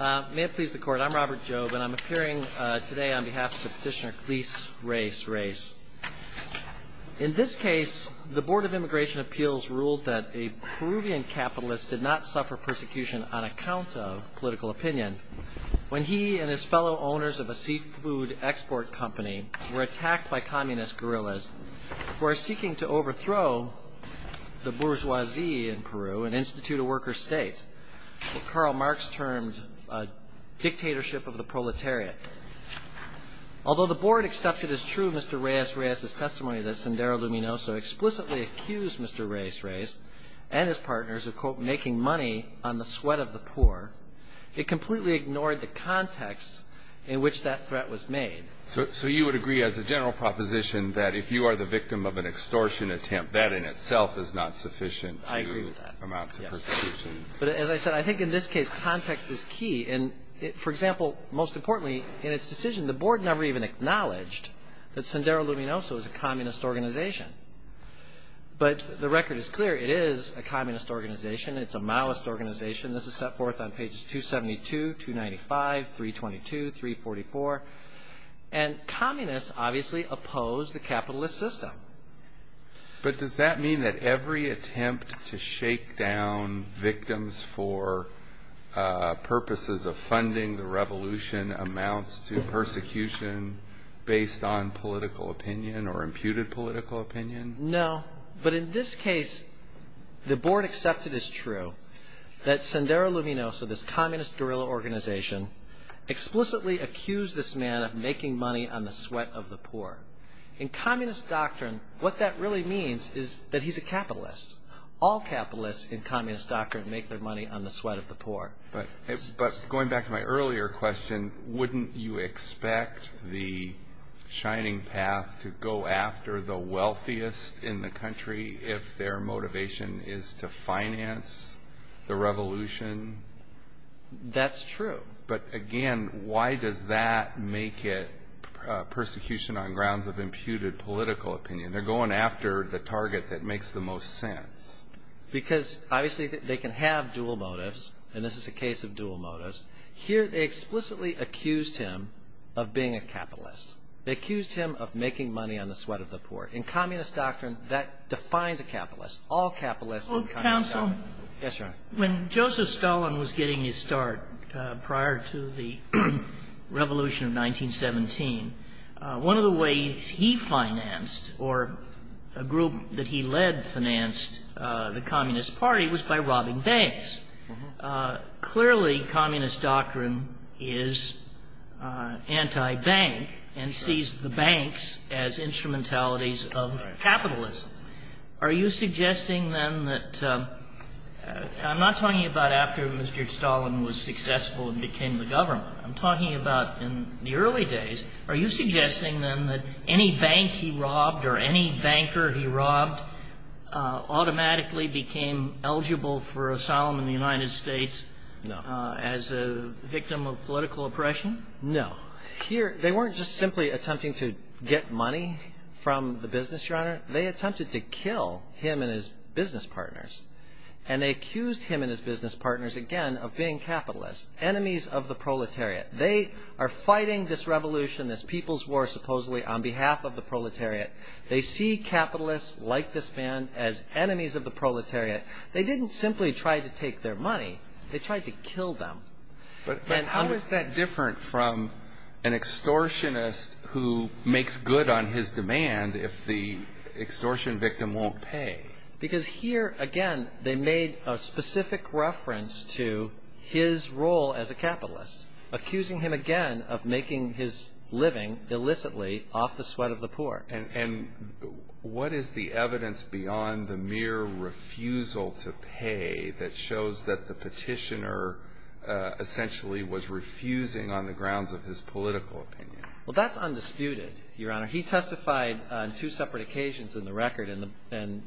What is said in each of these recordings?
May it please the Court, I'm Robert Jobe and I'm appearing today on behalf of the petitioner Cleis Reyes Reyes. In this case, the Board of Immigration Appeals ruled that a Peruvian capitalist did not suffer persecution on account of political opinion when he and his fellow owners of a seafood export company were attacked by communist guerrillas who are seeking to overthrow the bourgeoisie in Peru, an institute of workers' state. What Karl Marx termed a dictatorship of the proletariat. Although the Board accepted as true Mr. Reyes Reyes' testimony that Sendero Luminoso explicitly accused Mr. Reyes Reyes and his partners of, quote, making money on the sweat of the poor, it completely ignored the context in which that threat was made. So you would agree as a general proposition that if you are the victim of an extortion attempt, that in itself is not sufficient to amount to persecution? But as I said, I think in this case, context is key. And for example, most importantly, in its decision, the Board never even acknowledged that Sendero Luminoso is a communist organization. But the record is clear. It is a communist organization. It's a Maoist organization. This is set forth on pages 272, 295, 322, 344. And communists obviously oppose the capitalist system. But does that mean that every attempt to shake down victims for purposes of funding the revolution amounts to persecution based on political opinion or imputed political opinion? No. But in this case, the Board accepted as true that Sendero Luminoso, this communist guerrilla organization, explicitly accused this man of making money on the sweat of the poor. In communist doctrine, what that really means is that he's a capitalist. All capitalists in communist doctrine make their money on the sweat of the poor. But going back to my earlier question, wouldn't you expect the Shining Path to go after the wealthiest in the country if their motivation is to finance the revolution? That's true. But again, why does that make it persecution on grounds of imputed political opinion? They're going after the target that makes the most sense. Because obviously they can have dual motives, and this is a case of dual motives. Here they explicitly accused him of being a capitalist. They accused him of making money on the sweat of the poor. In communist doctrine, that defines a capitalist. Counsel? Yes, Your Honor. When Joseph Stalin was getting his start prior to the revolution of 1917, one of the ways he financed or a group that he led financed the Communist Party was by robbing banks. Clearly, communist doctrine is anti-bank and sees the banks as instrumentalities of capitalism. Are you suggesting then that – I'm not talking about after Mr. Stalin was successful and became the government. I'm talking about in the early days. Are you suggesting then that any bank he robbed or any banker he robbed automatically became eligible for asylum in the United States as a victim of political oppression? No. They weren't just simply attempting to get money from the business, Your Honor. They attempted to kill him and his business partners. And they accused him and his business partners, again, of being capitalists, enemies of the proletariat. They are fighting this revolution, this people's war, supposedly on behalf of the proletariat. They see capitalists like this man as enemies of the proletariat. They didn't simply try to take their money. They tried to kill them. But how is that different from an extortionist who makes good on his demand if the extortion victim won't pay? Because here, again, they made a specific reference to his role as a capitalist, accusing him, again, of making his living illicitly off the sweat of the poor. And what is the evidence beyond the mere refusal to pay that shows that the petitioner essentially was refusing on the grounds of his political opinion? Well, that's undisputed, Your Honor. He testified on two separate occasions in the record, and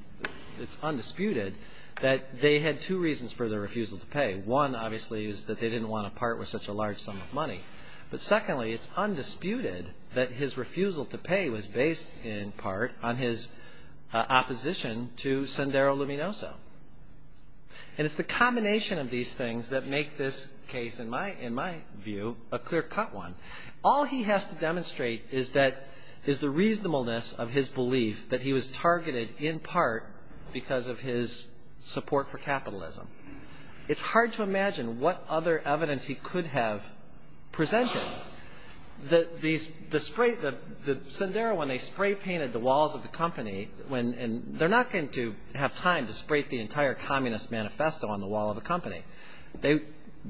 it's undisputed that they had two reasons for their refusal to pay. One, obviously, is that they didn't want to part with such a large sum of money. But secondly, it's undisputed that his refusal to pay was based in part on his opposition to Sendero Luminoso. And it's the combination of these things that make this case, in my view, a clear-cut one. All he has to demonstrate is the reasonableness of his belief that he was targeted in part because of his support for capitalism. It's hard to imagine what other evidence he could have presented. The Sendero, when they spray-painted the walls of the company, they're not going to have time to spray the entire Communist manifesto on the wall of a company. They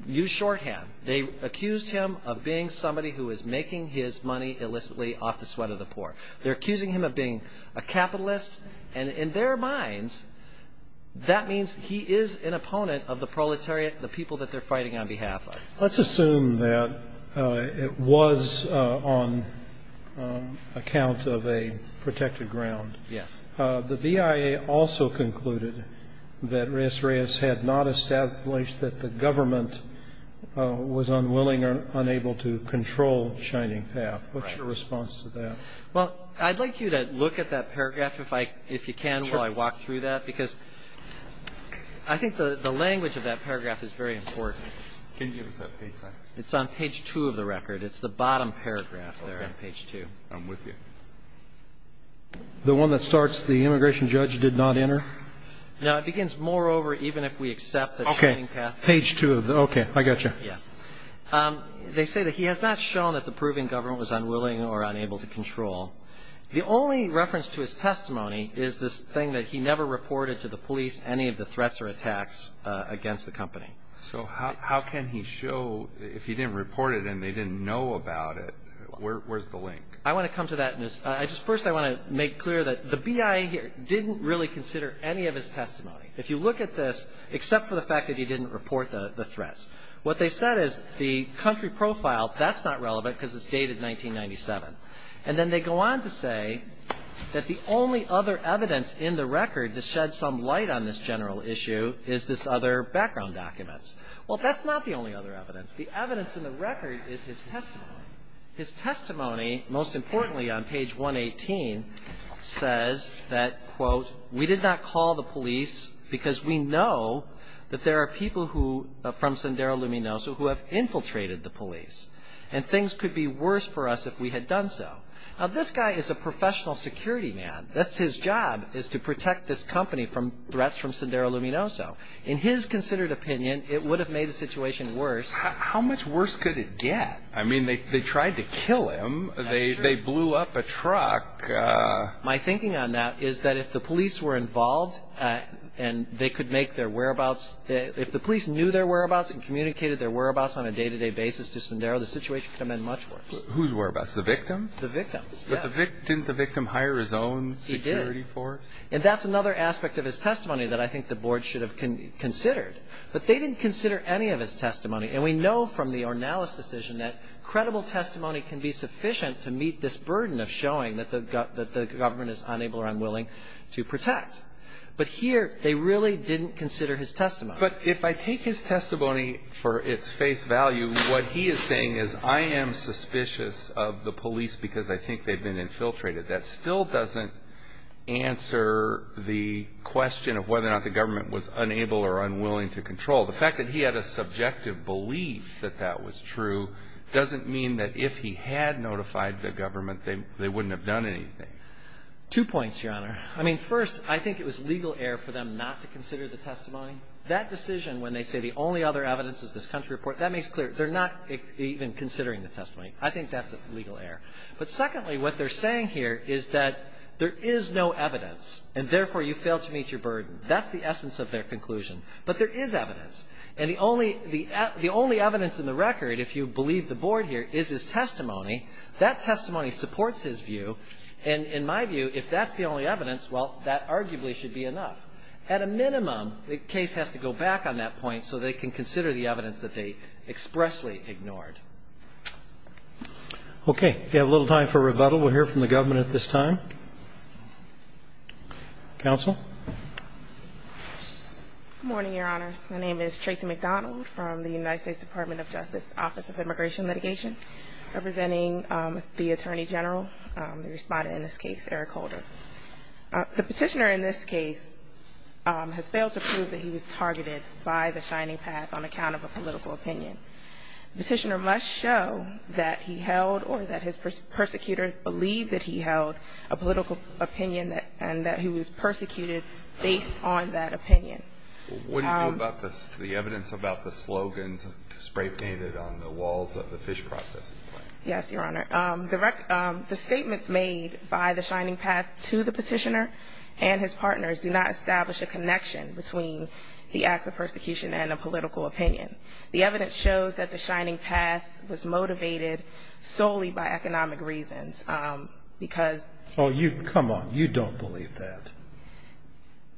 used shorthand. They accused him of being somebody who was making his money illicitly off the sweat of the poor. They're accusing him of being a capitalist. And in their minds, that means he is an opponent of the proletariat, the people that they're fighting on behalf of. Let's assume that it was on account of a protected ground. Yes. The BIA also concluded that Reyes-Reyes had not established that the government was unwilling or unable to control Shining Path. What's your response to that? Well, I'd like you to look at that paragraph, if you can, while I walk through that, because I think the language of that paragraph is very important. Can you give us that page, sir? It's on page 2 of the record. It's the bottom paragraph there on page 2. Okay. I'm with you. The one that starts, the immigration judge did not enter? No. It begins, moreover, even if we accept that Shining Path Okay. Page 2. Okay. I got you. Yeah. They say that he has not shown that the Peruvian government was unwilling or unable to control. The only reference to his testimony is this thing that he never reported to the police any of the threats or attacks against the company. So how can he show, if he didn't report it and they didn't know about it, where's the link? I want to come to that. First, I want to make clear that the BIA didn't really consider any of his testimony. If you look at this, except for the fact that he didn't report the threats, what they said is the country profile, that's not relevant because it's dated 1997. And then they go on to say that the only other evidence in the record to shed some light on this general issue is this other background document. Well, that's not the only other evidence. The evidence in the record is his testimony. His testimony, most importantly on page 118, says that, quote, we did not call the police because we know that there are people from Sendero Luminoso who have infiltrated the police. And things could be worse for us if we had done so. Now, this guy is a professional security man. That's his job, is to protect this company from threats from Sendero Luminoso. In his considered opinion, it would have made the situation worse. How much worse could it get? I mean, they tried to kill him. That's true. They blew up a truck. My thinking on that is that if the police were involved and they could make their whereabouts if the police knew their whereabouts and communicated their whereabouts on a day-to-day basis to Sendero, the situation could have been much worse. Whose whereabouts? The victim's? The victim's, yes. Didn't the victim hire his own security force? He did. And that's another aspect of his testimony that I think the board should have considered. But they didn't consider any of his testimony. And we know from the Ornelas decision that credible testimony can be sufficient to meet this burden of showing that the government is unable or unwilling to protect. But here, they really didn't consider his testimony. But if I take his testimony for its face value, what he is saying is, I am suspicious of the police because I think they've been infiltrated. That still doesn't answer the question of whether or not the government was unable or unwilling to control. The fact that he had a subjective belief that that was true doesn't mean that if he had notified the government, they wouldn't have done anything. Two points, Your Honor. I mean, first, I think it was legal error for them not to consider the testimony. That decision when they say the only other evidence is this country report, that makes clear they're not even considering the testimony. I think that's a legal error. But secondly, what they're saying here is that there is no evidence, and therefore you fail to meet your burden. That's the essence of their conclusion. But there is evidence. And the only evidence in the record, if you believe the board here, is his testimony. That testimony supports his view. And in my view, if that's the only evidence, well, that arguably should be enough. At a minimum, the case has to go back on that point so they can consider the evidence that they expressly ignored. We have a little time for rebuttal. We'll hear from the government at this time. Counsel? Good morning, Your Honors. My name is Tracy McDonald from the United States Department of Justice Office of Immigration Litigation, representing the Attorney General, the Respondent in this case, Eric Holder. The Petitioner in this case has failed to prove that he was targeted by the Shining Path on account of a political opinion. The Petitioner must show that he held or that his persecutors believed that he held a political opinion and that he was persecuted based on that opinion. What do you know about the evidence about the slogans spray-painted on the walls of the fish processing plant? Yes, Your Honor. The statements made by the Shining Path to the Petitioner and his partners do not establish a connection between the acts of persecution and a political opinion. The evidence shows that the Shining Path was motivated solely by economic reasons because Oh, you, come on. You don't believe that.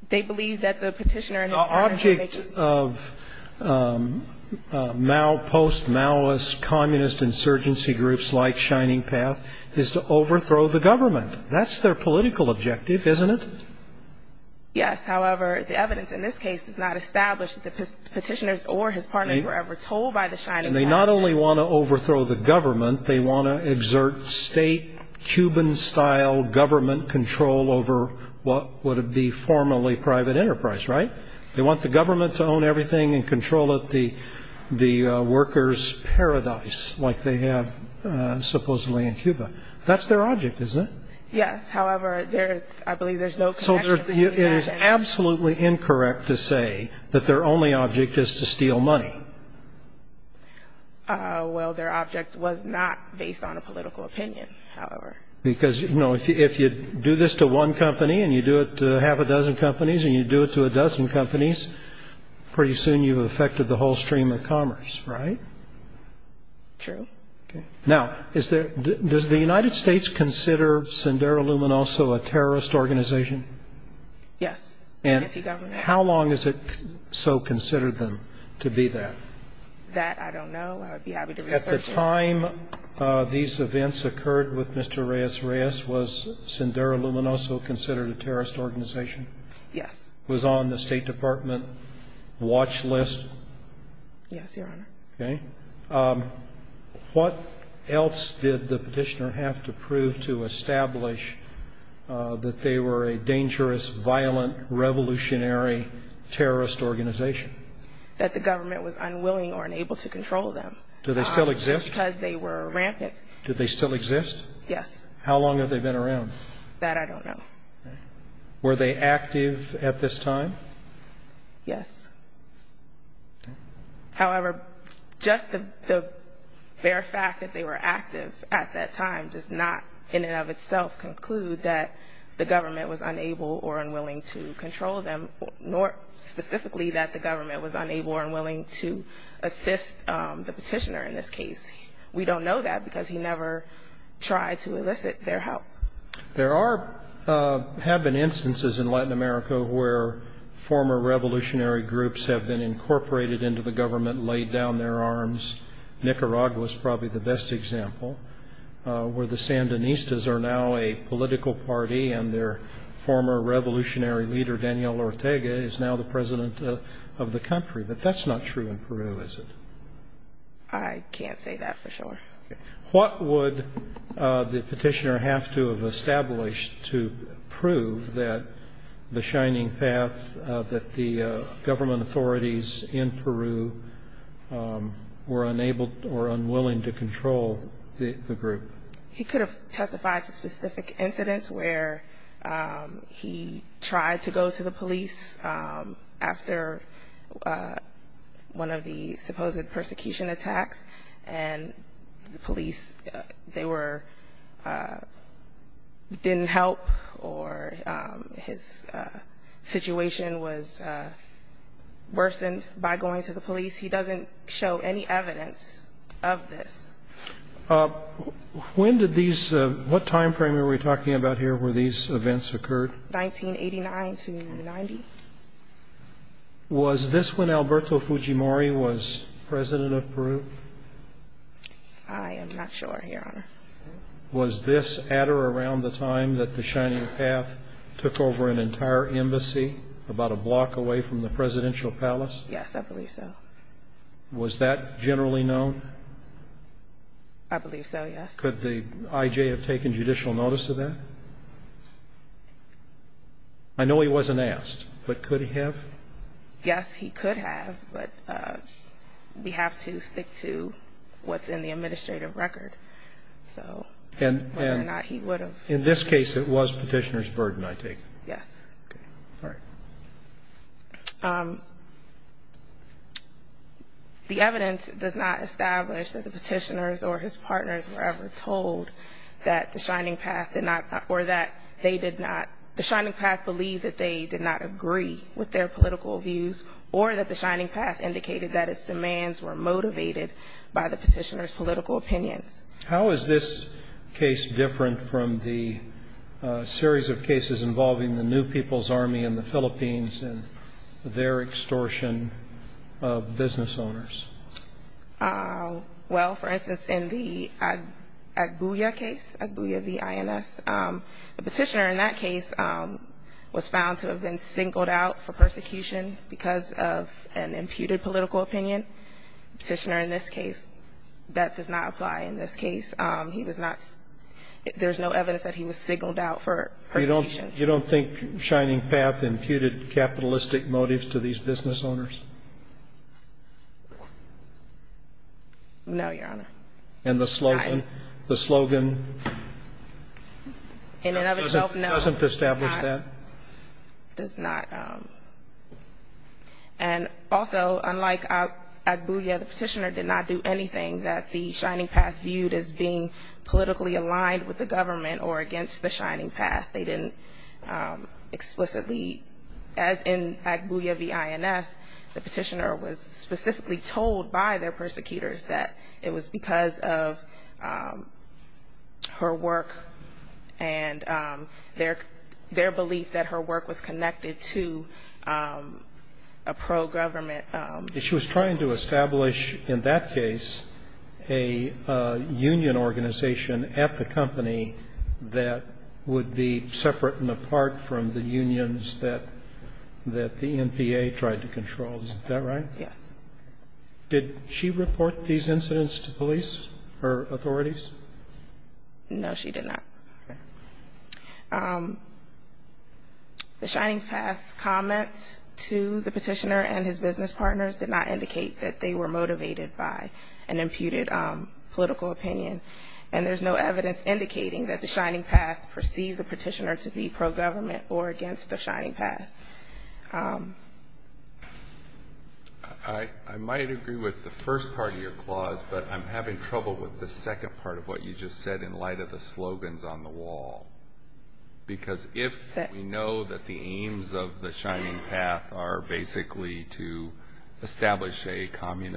They believe that the Petitioner and his partners are making The object of Mao, post-Maoist, communist insurgency groups like Shining Path is to overthrow the government. That's their political objective, isn't it? Yes. However, the evidence in this case does not establish that the Petitioners or his partners were ever told by the Shining Path. And they not only want to overthrow the government, they want to exert state, Cuban-style government control over what would be formerly private enterprise, right? They want the government to own everything and control it, the workers' paradise, like they have supposedly in Cuba. That's their object, isn't it? Yes. However, I believe there's no connection. So it is absolutely incorrect to say that their only object is to steal money. Well, their object was not based on a political opinion, however. Because, you know, if you do this to one company and you do it to half a dozen companies and you do it to a dozen companies, pretty soon you've affected the whole stream of commerce, right? True. Now, does the United States consider Sendero Luminoso a terrorist organization? Yes. And how long has it so considered them to be that? That I don't know. I would be happy to research it. At the time these events occurred with Mr. Reyes-Reyes, was Sendero Luminoso considered a terrorist organization? Yes. Was on the State Department watch list? Yes, Your Honor. Okay. What else did the petitioner have to prove to establish that they were a dangerous, violent, revolutionary terrorist organization? That the government was unwilling or unable to control them. Do they still exist? Just because they were rampant. Do they still exist? Yes. How long have they been around? That I don't know. Were they active at this time? Yes. However, just the bare fact that they were active at that time does not, in and of itself, conclude that the government was unable or unwilling to control them, nor specifically that the government was unable or unwilling to assist the petitioner in this case. We don't know that because he never tried to elicit their help. There have been instances in Latin America where former revolutionary groups have been incorporated into the government, laid down their arms. Nicaragua is probably the best example. Where the Sandinistas are now a political party and their former revolutionary leader, Daniel Ortega, is now the president of the country. But that's not true in Peru, is it? I can't say that for sure. What would the petitioner have to have established to prove that the shining path, that the government authorities in Peru were unable or unwilling to control the group? He could have testified to specific incidents where he tried to go to the police after one of the supposed persecution attacks, and the police didn't help or his situation was worsened by going to the police. He doesn't show any evidence of this. What time frame are we talking about here where these events occurred? 1989 to 1990. Was this when Alberto Fujimori was president of Peru? I am not sure, Your Honor. Was this at or around the time that the shining path took over an entire embassy about a block away from the presidential palace? Yes, I believe so. Was that generally known? I believe so, yes. Could the I.J. have taken judicial notice of that? I know he wasn't asked, but could he have? Yes, he could have, but we have to stick to what's in the administrative record, so whether or not he would have. In this case, it was petitioner's burden, I take it? Yes. Okay. All right. The evidence does not establish that the petitioners or his partners were ever told that the shining path did not, or that they did not, the shining path believed that they did not agree with their political views, or that the shining path indicated that its demands were motivated by the petitioner's political opinions. How is this case different from the series of cases involving the New People's Army in the Philippines and their extortion of business owners? Well, for instance, in the Agbuya case, Agbuya v. INS, the petitioner in that case was found to have been singled out for persecution because of an imputed political opinion. The petitioner in this case, that does not apply in this case. He was not – there's no evidence that he was singled out for persecution. You don't think shining path imputed capitalistic motives to these business owners? No, Your Honor. And the slogan? In and of itself, no. Doesn't establish that? Does not. And also, unlike Agbuya, the petitioner did not do anything that the shining path viewed as being politically aligned with the government or against the shining path. They didn't explicitly, as in Agbuya v. INS, the petitioner was specifically told by their persecutors that it was because of her work and their belief that her work was connected to a pro-government – She was trying to establish, in that case, a union organization at the company that would be separate and apart from the unions that the NPA tried to control. Is that right? Yes. Did she report these incidents to police or authorities? No, she did not. The shining path's comments to the petitioner and his business partners did not indicate that they were motivated by an imputed political opinion. And there's no evidence indicating that the shining path perceived the petitioner to be pro-government or against the shining path. I might agree with the first part of your clause, but I'm having trouble with the second part of what you just said in light of the slogans on the wall. Because if we know that the aims of the shining path are basically to establish a perfectly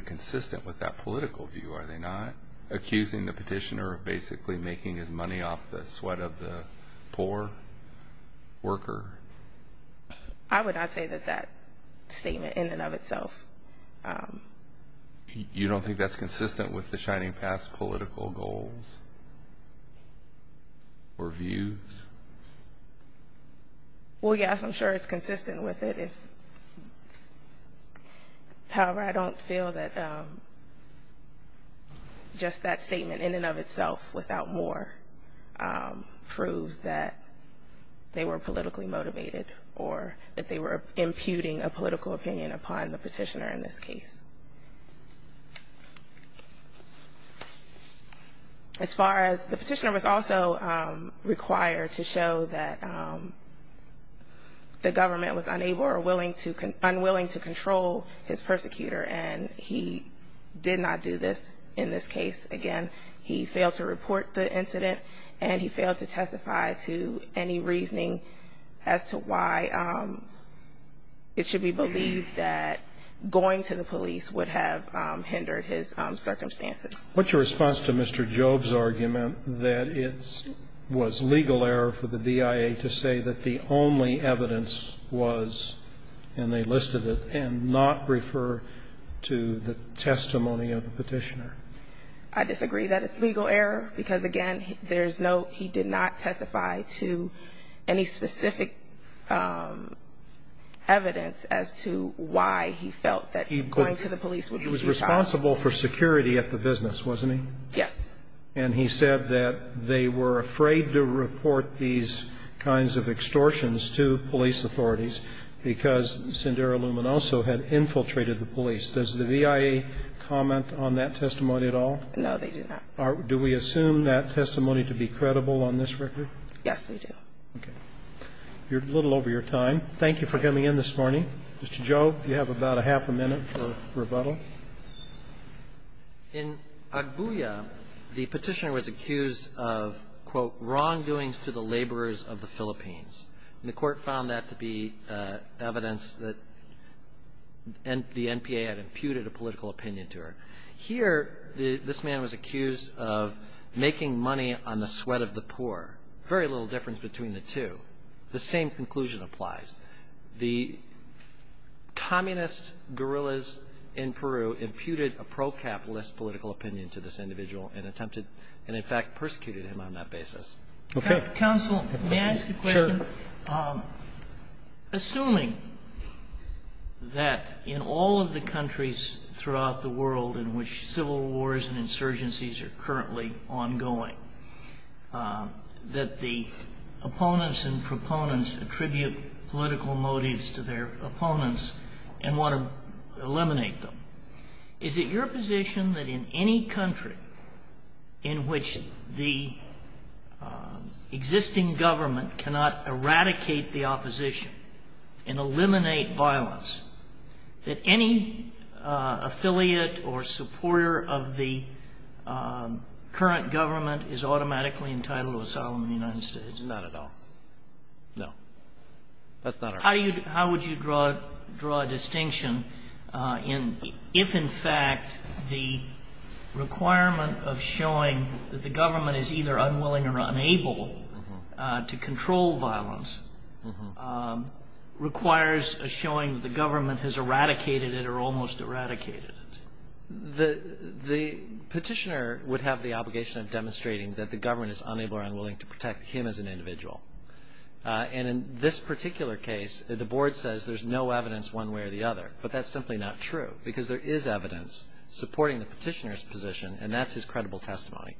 consistent with that political view, are they not? Accusing the petitioner of basically making his money off the sweat of the poor worker. I would not say that that statement in and of itself. You don't think that's consistent with the shining path's political goals or views? Well, yes, I'm sure it's consistent with it. However, I don't feel that just that statement in and of itself without more proves that they were politically motivated or that they were imputing a political opinion upon the petitioner in this case. As far as the petitioner was also required to show that the government was unable or unwilling to control his persecutor, and he did not do this in this case. Again, he failed to report the incident, and he failed to testify to any reasoning as to why it should be believed that going to the police would have hindered his circumstances. What's your response to Mr. Job's argument that it was legal error for the DIA to say that the only evidence was, and they listed it, and not refer to the testimony of the petitioner? I disagree that it's legal error, because, again, there's no he did not testify to any specific evidence as to why he felt that going to the police would be futile. He was responsible for security at the business, wasn't he? Yes. And he said that they were afraid to report these kinds of extortions to police authorities because Sendero Luminoso had infiltrated the police. Does the VIA comment on that testimony at all? No, they do not. Do we assume that testimony to be credible on this record? Yes, we do. Okay. You're a little over your time. Thank you for coming in this morning. Mr. Job, you have about a half a minute for rebuttal. In Agbuya, the petitioner was accused of, quote, wrongdoings to the laborers of the Philippines. And the Court found that to be evidence that the NPA had imputed a political opinion to her. Here, this man was accused of making money on the sweat of the poor. Very little difference between the two. The same conclusion applies. The communist guerrillas in Peru imputed a pro-capitalist political opinion to this individual and attempted and, in fact, persecuted him on that basis. Okay. Counsel, may I ask a question? Sure. Assuming that in all of the countries throughout the world in which civil wars and insurgencies are currently ongoing, that the opponents and proponents attribute political motives to their opponents and want to eliminate them, is it your position that in any country in which the existing government cannot eradicate the opposition and eliminate violence, that any affiliate or supporter of the current government is automatically entitled to asylum in the United States? Not at all. No. That's not our position. How would you draw a distinction if, in fact, the requirement of showing that the government is either unwilling or unable to control violence requires a showing that the government has eradicated it or almost eradicated it? The petitioner would have the obligation of demonstrating that the government is unable or unwilling to protect him as an individual. And in this particular case, the Board says there's no evidence one way or the other, but that's simply not true because there is evidence supporting the petitioner's position, and that's his credible testimony.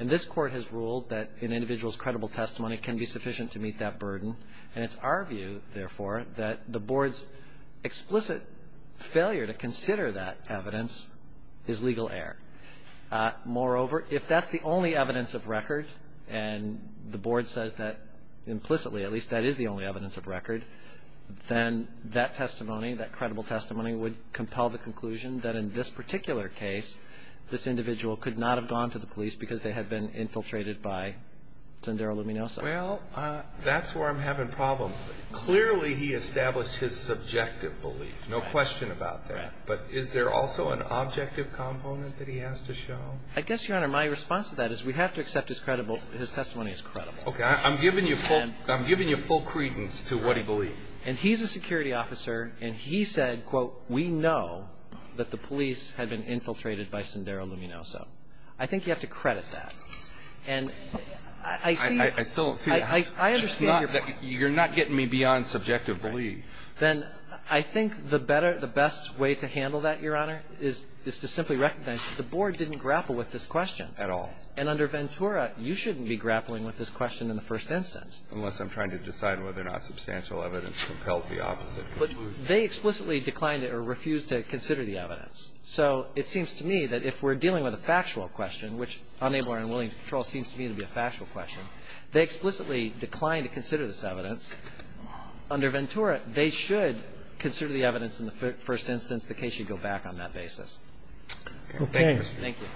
And this Court has ruled that an individual's credible testimony can be sufficient to meet that burden, and it's our view, therefore, that the Board's explicit failure to consider that evidence is legal error. Moreover, if that's the only evidence of record, and the Board says that implicitly, at least that is the only evidence of record, then that testimony, that credible testimony, would compel the conclusion that in this particular case this individual could not have gone to the police because they had been infiltrated by Sendero Luminoso. Well, that's where I'm having problems. Clearly he established his subjective belief. No question about that. Right. But is there also an objective component that he has to show? I guess, Your Honor, my response to that is we have to accept his testimony as credible. Okay. I'm giving you full credence to what he believed. And he's a security officer, and he said, quote, we know that the police had been infiltrated by Sendero Luminoso. I think you have to credit that. And I see. I still see. I understand your point. You're not getting me beyond subjective belief. Then I think the better, the best way to handle that, Your Honor, is to simply recognize that the Board didn't grapple with this question. At all. And under Ventura, you shouldn't be grappling with this question in the first instance. Unless I'm trying to decide whether or not substantial evidence compels the opposite conclusion. But they explicitly declined or refused to consider the evidence. So it seems to me that if we're dealing with a factual question, which unable or unwilling to control seems to me to be a factual question, they explicitly declined to consider this evidence. Under Ventura, they should consider the evidence in the first instance. The case should go back on that basis. Okay. Thank you.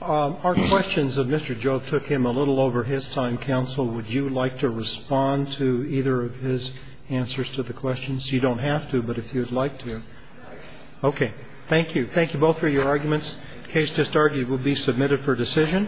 Our questions of Mr. Joe took him a little over his time, counsel. Would you like to respond to either of his answers to the questions? You don't have to, but if you'd like to. Okay. Thank you. Thank you both for your arguments. The case just argued will be submitted for decision.